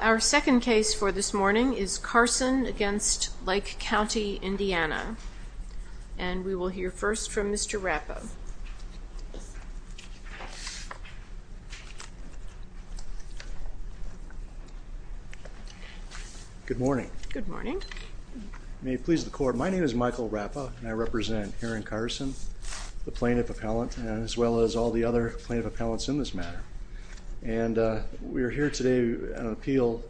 Our second case for this morning is Carson v. Lake County, Indiana And we will hear first from Mr. Rappa. Good morning. Good morning. May it please the court, my name is Michael Rappa and I represent Aaron Carson, the plaintiff appellant, as well as all the other plaintiff appellants in this matter. And we are here today on an appeal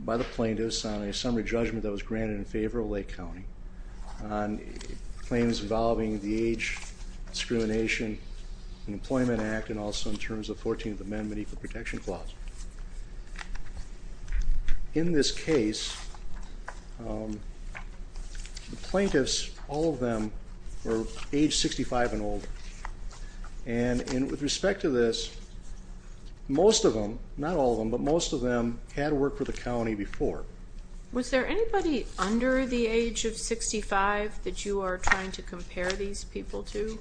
by the plaintiffs on a summary judgment that was granted in favor of Lake County on claims involving the Age Discrimination and Employment Act and also in terms of the 14th Amendment Equal Protection Clause. In this case, the plaintiffs, all of them, were age 65 and older. And with respect to this, most of them, not all of them, but most of them had worked for the county before. Was there anybody under the age of 65 that you are trying to compare these people to?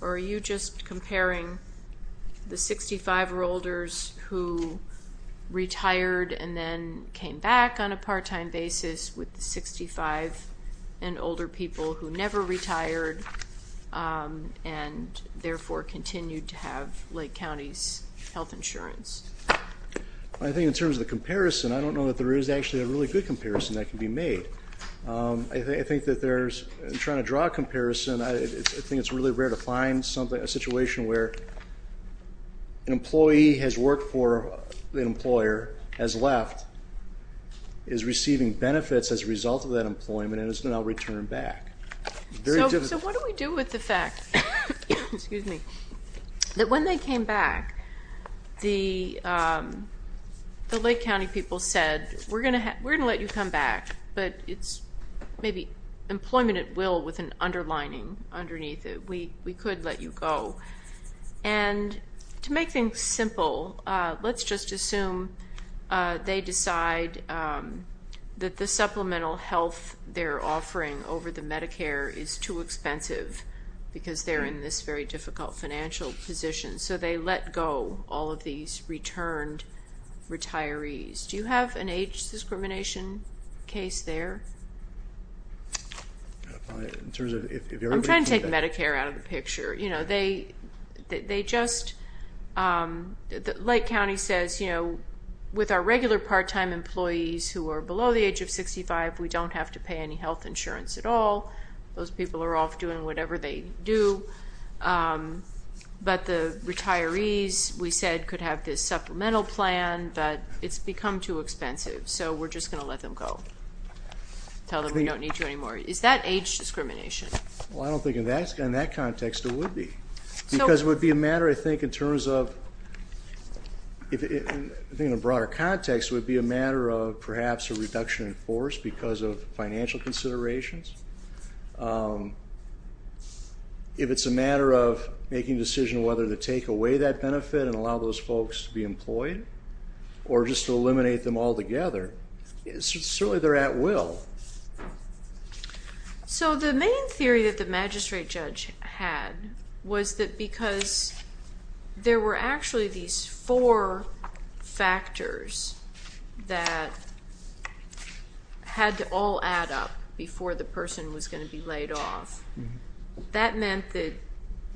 Or are you just comparing the 65-year-olders who retired and then came back on a part-time basis with the 65 and older people who never retired and therefore continued to have Lake County's health insurance? I think in terms of the comparison, I don't know that there is actually a really good comparison that can be made. I think that there's, in trying to draw a comparison, I think it's really rare to find a situation where an employee has worked for an employer, has left, is receiving benefits as a result of that employment and has now returned back. So what do we do with the fact that when they came back, the Lake County people said, we're going to let you come back, but it's maybe employment at will with an underlining underneath it. We could let you go. And to make things simple, let's just assume they decide that the supplemental health they're offering over the Medicare is too expensive because they're in this very difficult financial position. So they let go all of these returned retirees. Do you have an age discrimination case there? I'm trying to take Medicare out of the picture. You know, they just, Lake County says, you know, with our regular part-time employees who are below the age of 65, we don't have to pay any health insurance at all. Those people are off doing whatever they do. But the retirees, we said, could have this supplemental plan, but it's become too expensive. So we're just going to let them go. Tell them we don't need you anymore. Is that age discrimination? Well, I don't think in that context it would be. Because it would be a matter, I think, in terms of, I think in a broader context, it would be a matter of perhaps a reduction in force because of financial considerations. If it's a matter of making a decision whether to take away that benefit and allow those folks to be employed, or just to eliminate them altogether, certainly they're at will. So the main theory that the magistrate judge had was that because there were actually these four factors that had to all add up before the person was going to be laid off, that meant that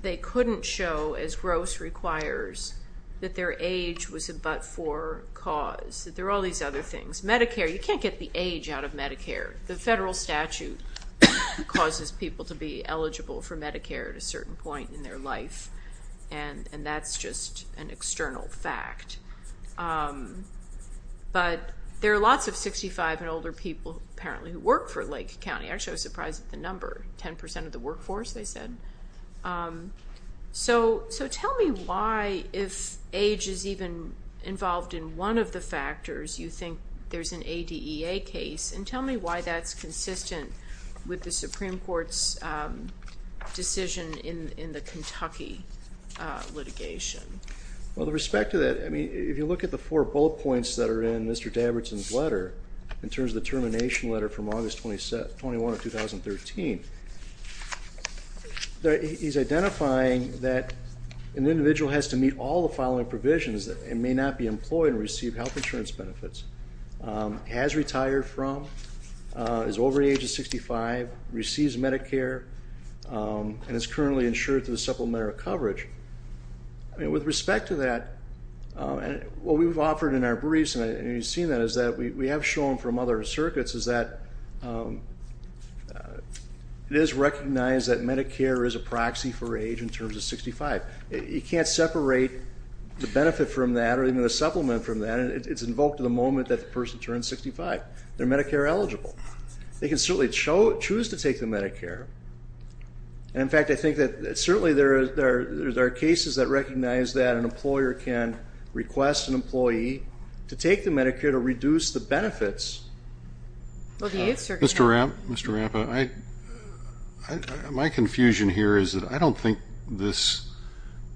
they couldn't show, as gross requires, that their age was a but-for cause. That there were all these other things. Medicare, you can't get the age out of Medicare. The federal statute causes people to be eligible for Medicare at a certain point in their life, and that's just an external fact. But there are lots of 65 and older people, apparently, who work for Lake County. Actually, I was surprised at the number. Ten percent of the workforce, they said. So tell me why, if age is even involved in one of the factors, you think there's an ADEA case, and tell me why that's consistent with the Supreme Court's decision in the Kentucky litigation. Well, with respect to that, if you look at the four bullet points that are in Mr. Dabberton's letter, in terms of the termination letter from August 21 of 2013, he's identifying that an individual has to meet all the following provisions and may not be employed and receive health insurance benefits. Has retired from, is over the age of 65, receives Medicare, and is currently insured through the supplementary coverage. With respect to that, what we've offered in our briefs, and you've seen that, is that we have shown from other circuits is that it is recognized that Medicare is a proxy for age in terms of 65. You can't separate the benefit from that or even the supplement from that. It's invoked at the moment that the person turns 65. They're Medicare eligible. They can certainly choose to take the Medicare. And, in fact, I think that certainly there are cases that recognize that an employer can request an employee to take the Medicare to reduce the benefits. Mr. Rappa, my confusion here is that I don't think this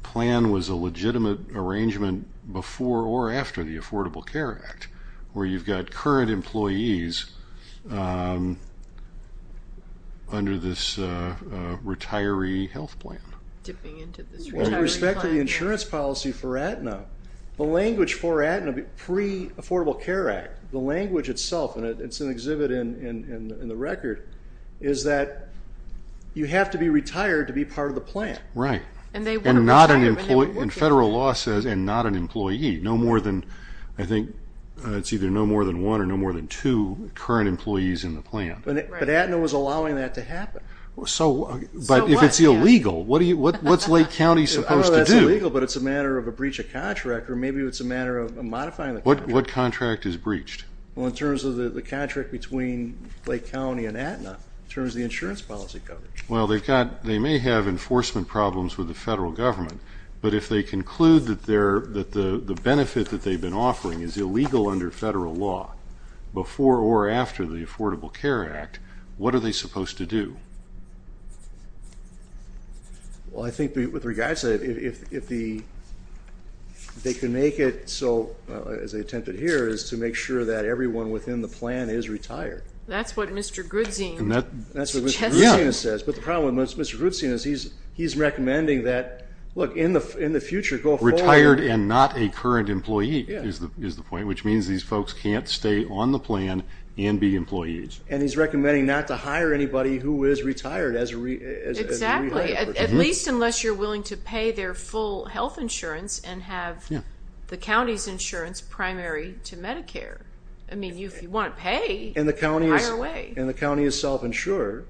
plan was a legitimate arrangement before or after the Affordable Care Act, where you've got current employees under this retiree health plan. With respect to the insurance policy for Aetna, the language for Aetna pre-Affordable Care Act, the language itself, and it's an exhibit in the record, is that you have to be retired to be part of the plan. Right. And federal law says, and not an employee. I think it's either no more than one or no more than two current employees in the plan. But Aetna was allowing that to happen. But if it's illegal, what's Lake County supposed to do? I don't know if that's illegal, but it's a matter of a breach of contract or maybe it's a matter of modifying the contract. What contract is breached? Well, in terms of the contract between Lake County and Aetna, in terms of the insurance policy coverage. Well, they may have enforcement problems with the federal government, but if they conclude that the benefit that they've been offering is illegal under federal law, before or after the Affordable Care Act, what are they supposed to do? Well, I think with regards to that, if they can make it so, as they attempted here, is to make sure that everyone within the plan is retired. That's what Mr. Grudzina says. But the problem with Mr. Grudzina is he's recommending that, look, in the future, go forward. Retired and not a current employee is the point, which means these folks can't stay on the plan and be employees. And he's recommending not to hire anybody who is retired as a rehire. Exactly. At least unless you're willing to pay their full health insurance and have the county's insurance primary to Medicare. I mean, if you want to pay, hire away. And the county is self-insured.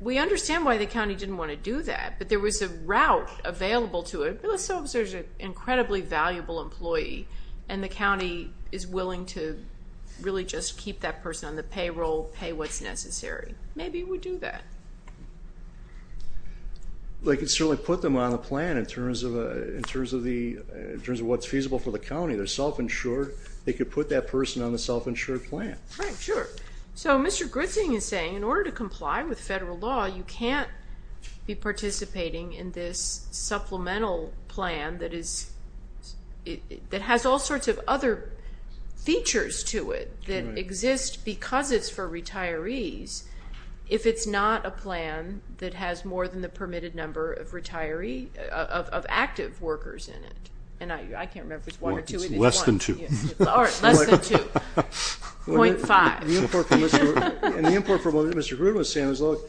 We understand why the county didn't want to do that, but there was a route available to it. Let's suppose there's an incredibly valuable employee and the county is willing to really just keep that person on the payroll, pay what's necessary. Maybe it would do that. They could certainly put them on the plan in terms of what's feasible for the county. They're self-insured. They could put that person on the self-insured plan. Right, sure. So Mr. Grudzing is saying in order to comply with federal law, you can't be participating in this supplemental plan that has all sorts of other features to it that exist because it's for retirees if it's not a plan that has more than the permitted number of active workers in it. And I can't remember if it's one or two. It's less than two. Point five. And the import for what Mr. Grud was saying was, look,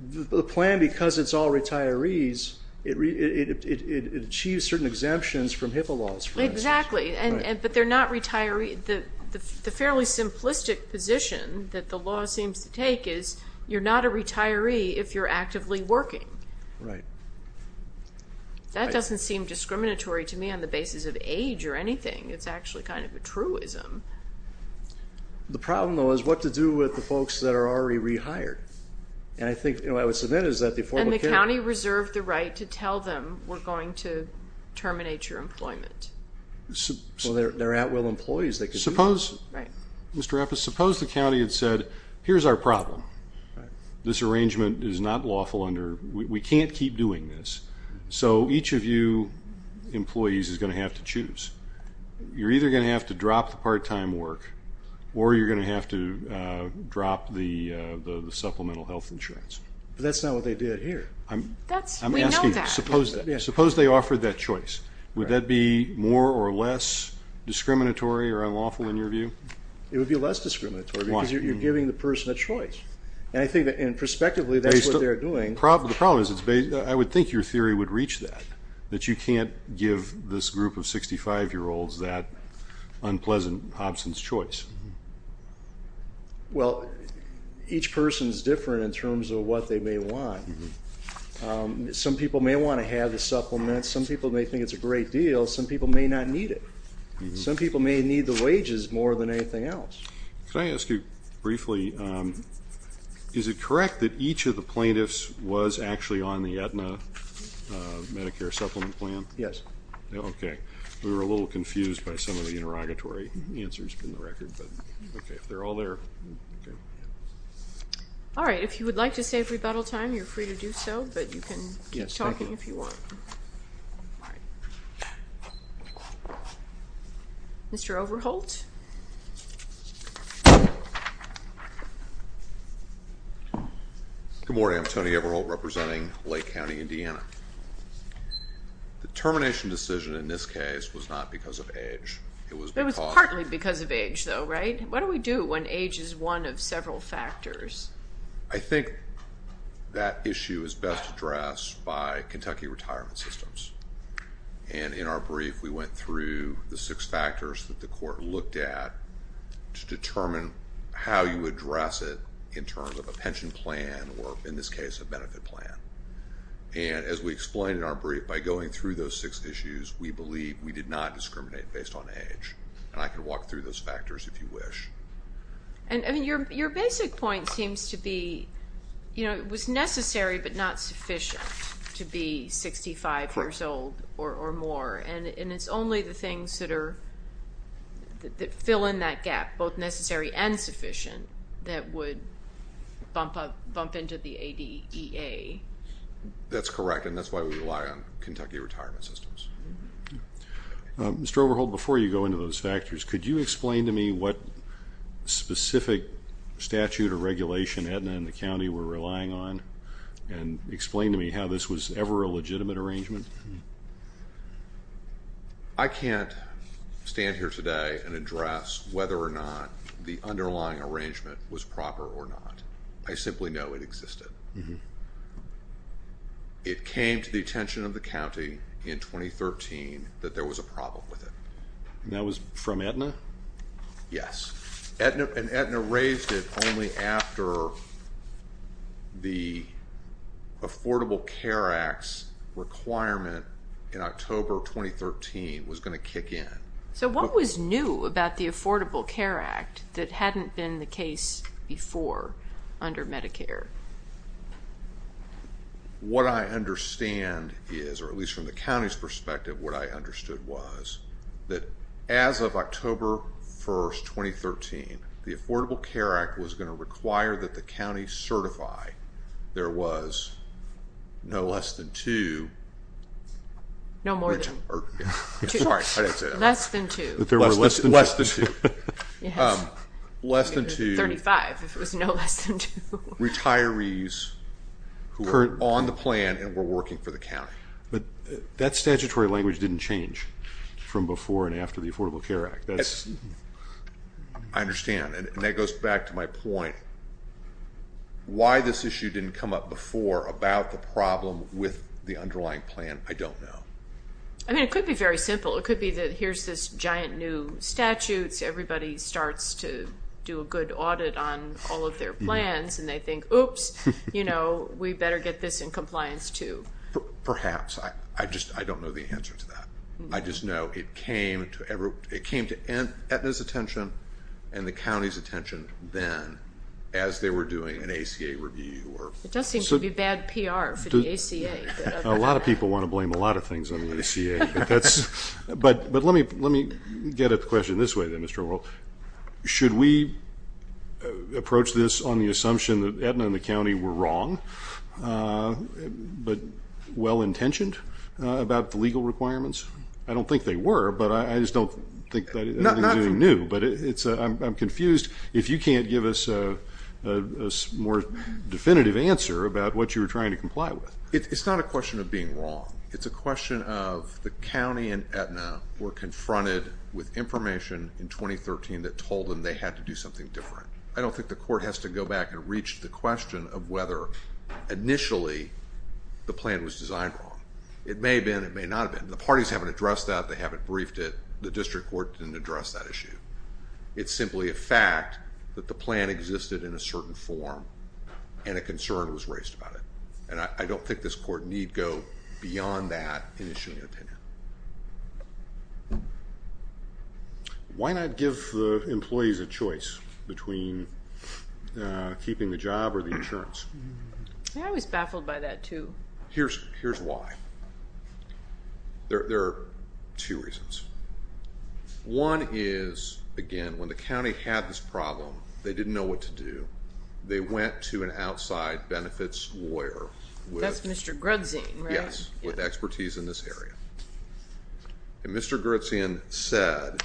the plan, because it's all retirees, it achieves certain exemptions from HIPAA laws, for instance. Exactly. But they're not retirees. The fairly simplistic position that the law seems to take is you're not a retiree if you're actively working. Right. That doesn't seem discriminatory to me on the basis of age or anything. It's actually kind of a truism. The problem, though, is what to do with the folks that are already rehired. And I think what I would submit is that the Affordable Care Act — And the county reserved the right to tell them we're going to terminate your employment. So they're at-will employees. Right. Mr. Raffis, suppose the county had said, here's our problem. This arrangement is not lawful. We can't keep doing this. So each of you employees is going to have to choose. You're either going to have to drop the part-time work or you're going to have to drop the supplemental health insurance. But that's not what they did here. We know that. Suppose they offered that choice. Would that be more or less discriminatory or unlawful in your view? It would be less discriminatory because you're giving the person a choice. And I think that, prospectively, that's what they're doing. The problem is I would think your theory would reach that, that you can't give this group of 65-year-olds that unpleasant absence choice. Well, each person is different in terms of what they may want. Some people may want to have the supplements. Some people may think it's a great deal. Some people may not need it. Some people may need the wages more than anything else. Could I ask you briefly, is it correct that each of the plaintiffs was actually on the Aetna Medicare supplement plan? Yes. Okay. We were a little confused by some of the interrogatory answers in the record. But, okay, if they're all there, okay. All right. If you would like to save rebuttal time, you're free to do so. But you can keep talking if you want. All right. Mr. Overholt? Good morning. I'm Tony Overholt representing Lake County, Indiana. The termination decision in this case was not because of age. It was because of age. It was partly because of age, though, right? What do we do when age is one of several factors? I think that issue is best addressed by Kentucky retirement systems. And in our brief, we went through the six factors that the court looked at to determine how you address it in terms of a pension plan, or in this case, a benefit plan. And as we explained in our brief, by going through those six issues, we believe we did not discriminate based on age. And I can walk through those factors if you wish. And your basic point seems to be, you know, it was necessary but not sufficient to be 65 years old or more. And it's only the things that fill in that gap, both necessary and sufficient, that would bump into the ADEA. That's correct, and that's why we rely on Kentucky retirement systems. Mr. Overholt, before you go into those factors, could you explain to me what specific statute or regulation Aetna and the county were relying on and explain to me how this was ever a legitimate arrangement? I can't stand here today and address whether or not the underlying arrangement was proper or not. I simply know it existed. It came to the attention of the county in 2013 that there was a problem with it. And that was from Aetna? Yes, and Aetna raised it only after the Affordable Care Act's requirement in October 2013 was going to kick in. So what was new about the Affordable Care Act that hadn't been the case before under Medicare? What I understand is, or at least from the county's perspective, what I understood was that as of October 1, 2013, the Affordable Care Act was going to require that the county certify there was no less than two. No more than two. Sorry, I didn't say that. Less than two. Less than two. Less than two. Less than two. 35 if it was no less than two. Retirees who were on the plan and were working for the county. But that statutory language didn't change from before and after the Affordable Care Act. I understand, and that goes back to my point. Why this issue didn't come up before about the problem with the underlying plan, I don't know. I mean, it could be very simple. It could be that here's this giant new statute, everybody starts to do a good audit on all of their plans, and they think, oops, you know, we better get this in compliance too. Perhaps. I just don't know the answer to that. I just know it came to Aetna's attention and the county's attention then as they were doing an ACA review. It does seem to be bad PR for the ACA. A lot of people want to blame a lot of things on the ACA. But let me get at the question this way then, Mr. O'Rourke. Should we approach this on the assumption that Aetna and the county were wrong, but well-intentioned about the legal requirements? I don't think they were, but I just don't think that anything is new. But I'm confused. If you can't give us a more definitive answer about what you were trying to comply with. It's not a question of being wrong. It's a question of the county and Aetna were confronted with information in 2013 that told them they had to do something different. I don't think the court has to go back and reach the question of whether initially the plan was designed wrong. It may have been. It may not have been. The parties haven't addressed that. They haven't briefed it. The district court didn't address that issue. It's simply a fact that the plan existed in a certain form and a concern was raised about it. And I don't think this court need go beyond that in issuing an opinion. Why not give the employees a choice between keeping the job or the insurance? I was baffled by that, too. Here's why. There are two reasons. One is, again, when the county had this problem, they didn't know what to do. They went to an outside benefits lawyer. That's Mr. Grudzien, right? Yes, with expertise in this area. And Mr. Grudzien said,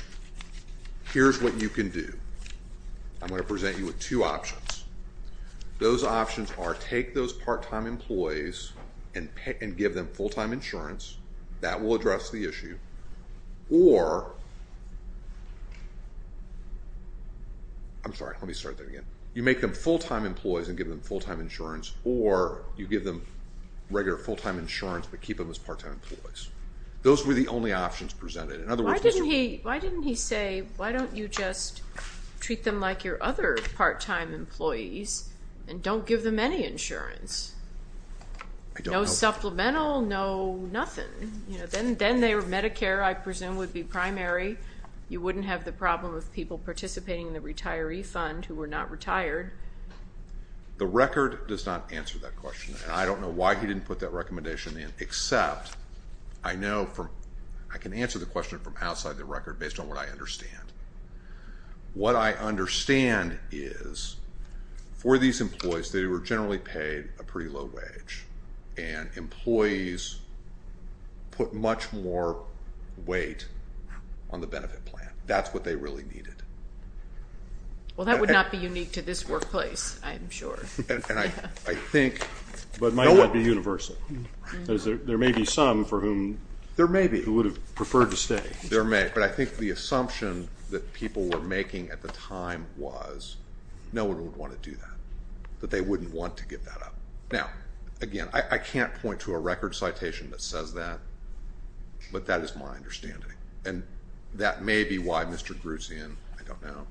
here's what you can do. I'm going to present you with two options. Those options are take those part-time employees and give them full-time insurance. That will address the issue. Or, I'm sorry, let me start that again. You make them full-time employees and give them full-time insurance, or you give them regular full-time insurance but keep them as part-time employees. Those were the only options presented. Why didn't he say, why don't you just treat them like your other part-time employees and don't give them any insurance? No supplemental, no nothing. Then Medicare, I presume, would be primary. You wouldn't have the problem of people participating in the retiree fund who were not retired. The record does not answer that question. I don't know why he didn't put that recommendation in, except I know I can answer the question from outside the record based on what I understand. What I understand is for these employees, they were generally paid a pretty low wage. And employees put much more weight on the benefit plan. That's what they really needed. Well, that would not be unique to this workplace, I'm sure. And I think no one would. But might not be universal. There may be some for whom. There may be. Who would have preferred to stay. There may. But I think the assumption that people were making at the time was no one would want to do that, that they wouldn't want to give that up. Now, again, I can't point to a record citation that says that. But that is my understanding. And that may be why Mr. Grusin, I don't know,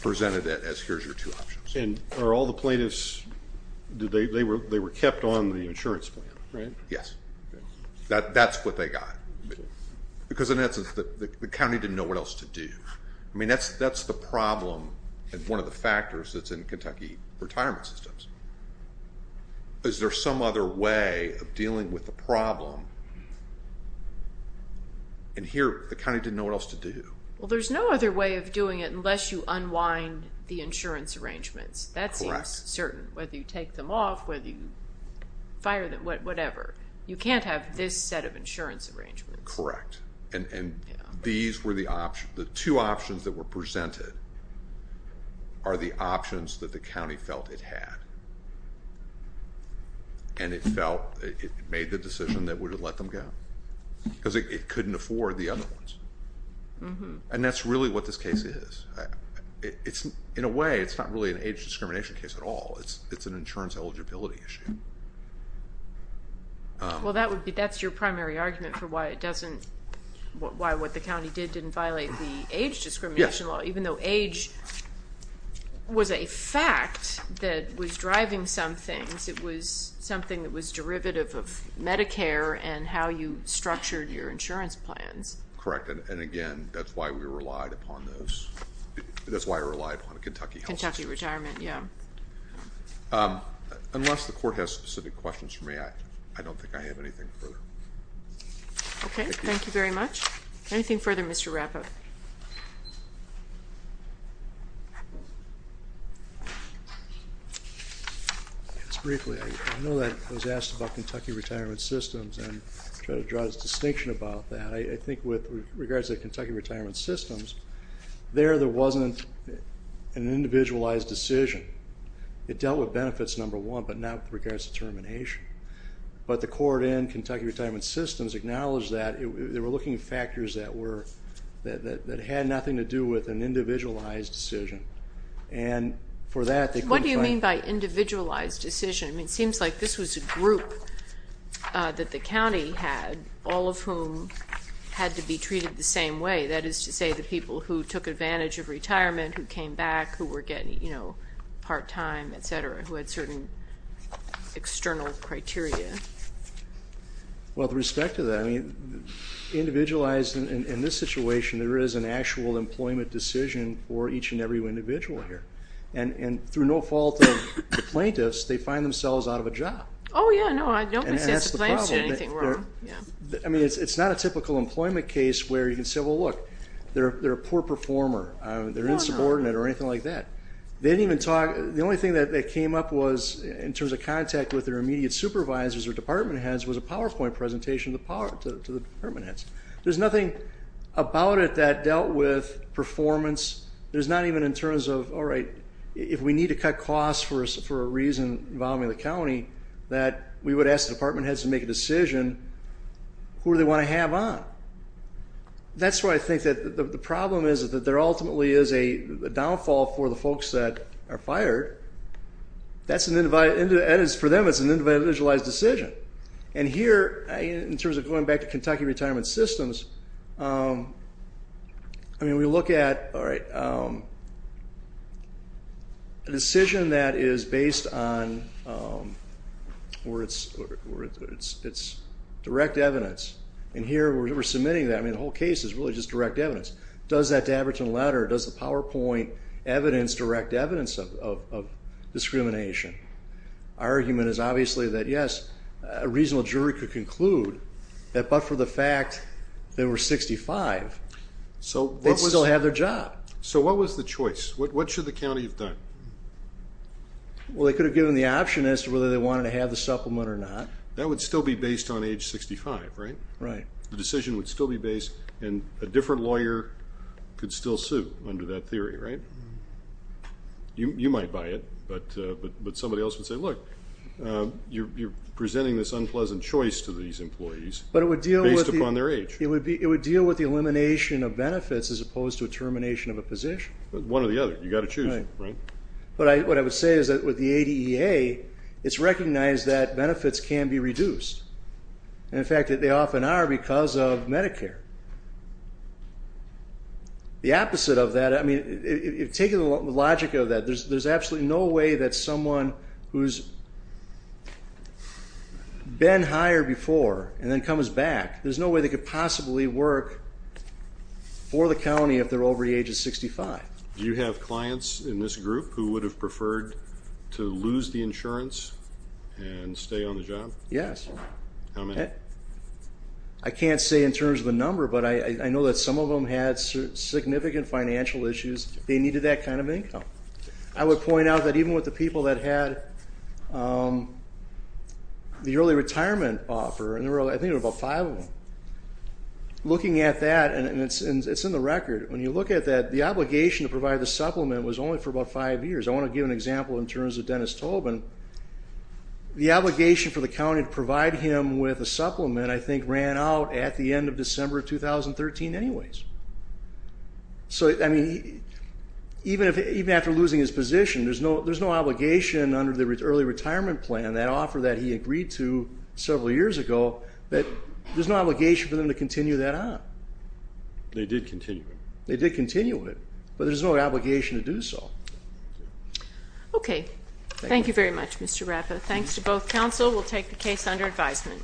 presented it as here's your two options. And are all the plaintiffs, they were kept on the insurance plan, right? Yes. That's what they got. Because in essence, the county didn't know what else to do. I mean, that's the problem and one of the factors that's in Kentucky retirement systems. Is there some other way of dealing with the problem? And here, the county didn't know what else to do. Well, there's no other way of doing it unless you unwind the insurance arrangements. That seems certain. Whether you take them off, whether you fire them, whatever. You can't have this set of insurance arrangements. Correct. And these were the options. The two options that were presented are the options that the county felt it had. And it felt it made the decision that it would have let them go. Because it couldn't afford the other ones. And that's really what this case is. In a way, it's not really an age discrimination case at all. It's an insurance eligibility issue. Well, that's your primary argument for why what the county did didn't violate the age discrimination law. Yes. Even though age was a fact that was driving some things, it was something that was derivative of Medicare and how you structured your insurance plans. Correct. And, again, that's why we relied upon Kentucky health systems. Kentucky retirement, yeah. Unless the court has specific questions for me, I don't think I have anything further. Okay. Thank you very much. Anything further, Mr. Rapoport? Just briefly, I know that I was asked about Kentucky retirement systems and tried to draw a distinction about that. I think with regards to Kentucky retirement systems, there, there wasn't an individualized decision. It dealt with benefits, number one, but not with regards to termination. But the court in Kentucky retirement systems acknowledged that. They were looking at factors that had nothing to do with an individualized decision. And for that, they couldn't find it. What do you mean by individualized decision? I mean, it seems like this was a group that the county had, all of whom had to be treated the same way. That is to say, the people who took advantage of retirement, who came back, who were getting, you know, part-time, et cetera, who had certain external criteria. Well, with respect to that, I mean, individualized in this situation, there is an actual employment decision for each and every individual here. And through no fault of the plaintiffs, they find themselves out of a job. Oh, yeah, no, I don't think the plaintiffs did anything wrong. I mean, it's not a typical employment case where you can say, well, look, they're a poor performer. They're insubordinate or anything like that. They didn't even talk. The only thing that came up was in terms of contact with their immediate supervisors or department heads was a PowerPoint presentation to the department heads. There's nothing about it that dealt with performance. There's not even in terms of, all right, if we need to cut costs for a reason involving the county, that we would ask the department heads to make a decision who they want to have on. That's why I think that the problem is that there ultimately is a downfall for the folks that are fired. That's an individualized decision. And here, in terms of going back to Kentucky retirement systems, I mean, we look at, all right, a decision that is based on where it's direct evidence. And here, we're submitting that. I mean, the whole case is really just direct evidence. Does that Dabberton letter, does the PowerPoint evidence direct evidence of discrimination? Our argument is obviously that, yes, a reasonable jury could conclude that but for the fact they were 65, they'd still have their job. So what was the choice? What should the county have done? Well, they could have given the option as to whether they wanted to have the supplement or not. That would still be based on age 65, right? Right. The decision would still be based, and a different lawyer could still sue under that theory, right? You might buy it, but somebody else would say, look, you're presenting this unpleasant choice to these employees based upon their age. It would deal with the elimination of benefits as opposed to a termination of a position. One or the other. You've got to choose, right? Right. But what I would say is that with the ADEA, it's recognized that benefits can be reduced. And, in fact, they often are because of Medicare. The opposite of that, I mean, taking the logic of that, there's absolutely no way that someone who's been hired before and then comes back, there's no way they could possibly work for the county if they're over the age of 65. Do you have clients in this group who would have preferred to lose the insurance and stay on the job? Yes. How many? I can't say in terms of the number, but I know that some of them had significant financial issues. They needed that kind of income. I would point out that even with the people that had the early retirement offer, I think there were about five of them. Looking at that, and it's in the record, when you look at that, the obligation to provide the supplement was only for about five years. I want to give an example in terms of Dennis Tobin. The obligation for the county to provide him with a supplement, I think, ran out at the end of December of 2013 anyways. So, I mean, even after losing his position, there's no obligation under the early retirement plan, that offer that he agreed to several years ago, that there's no obligation for them to continue that on. They did continue it. They did continue it, but there's no obligation to do so. Okay. Thank you. Thank you very much, Mr. Rapa. Thanks to both counsel. We'll take the case under advisement.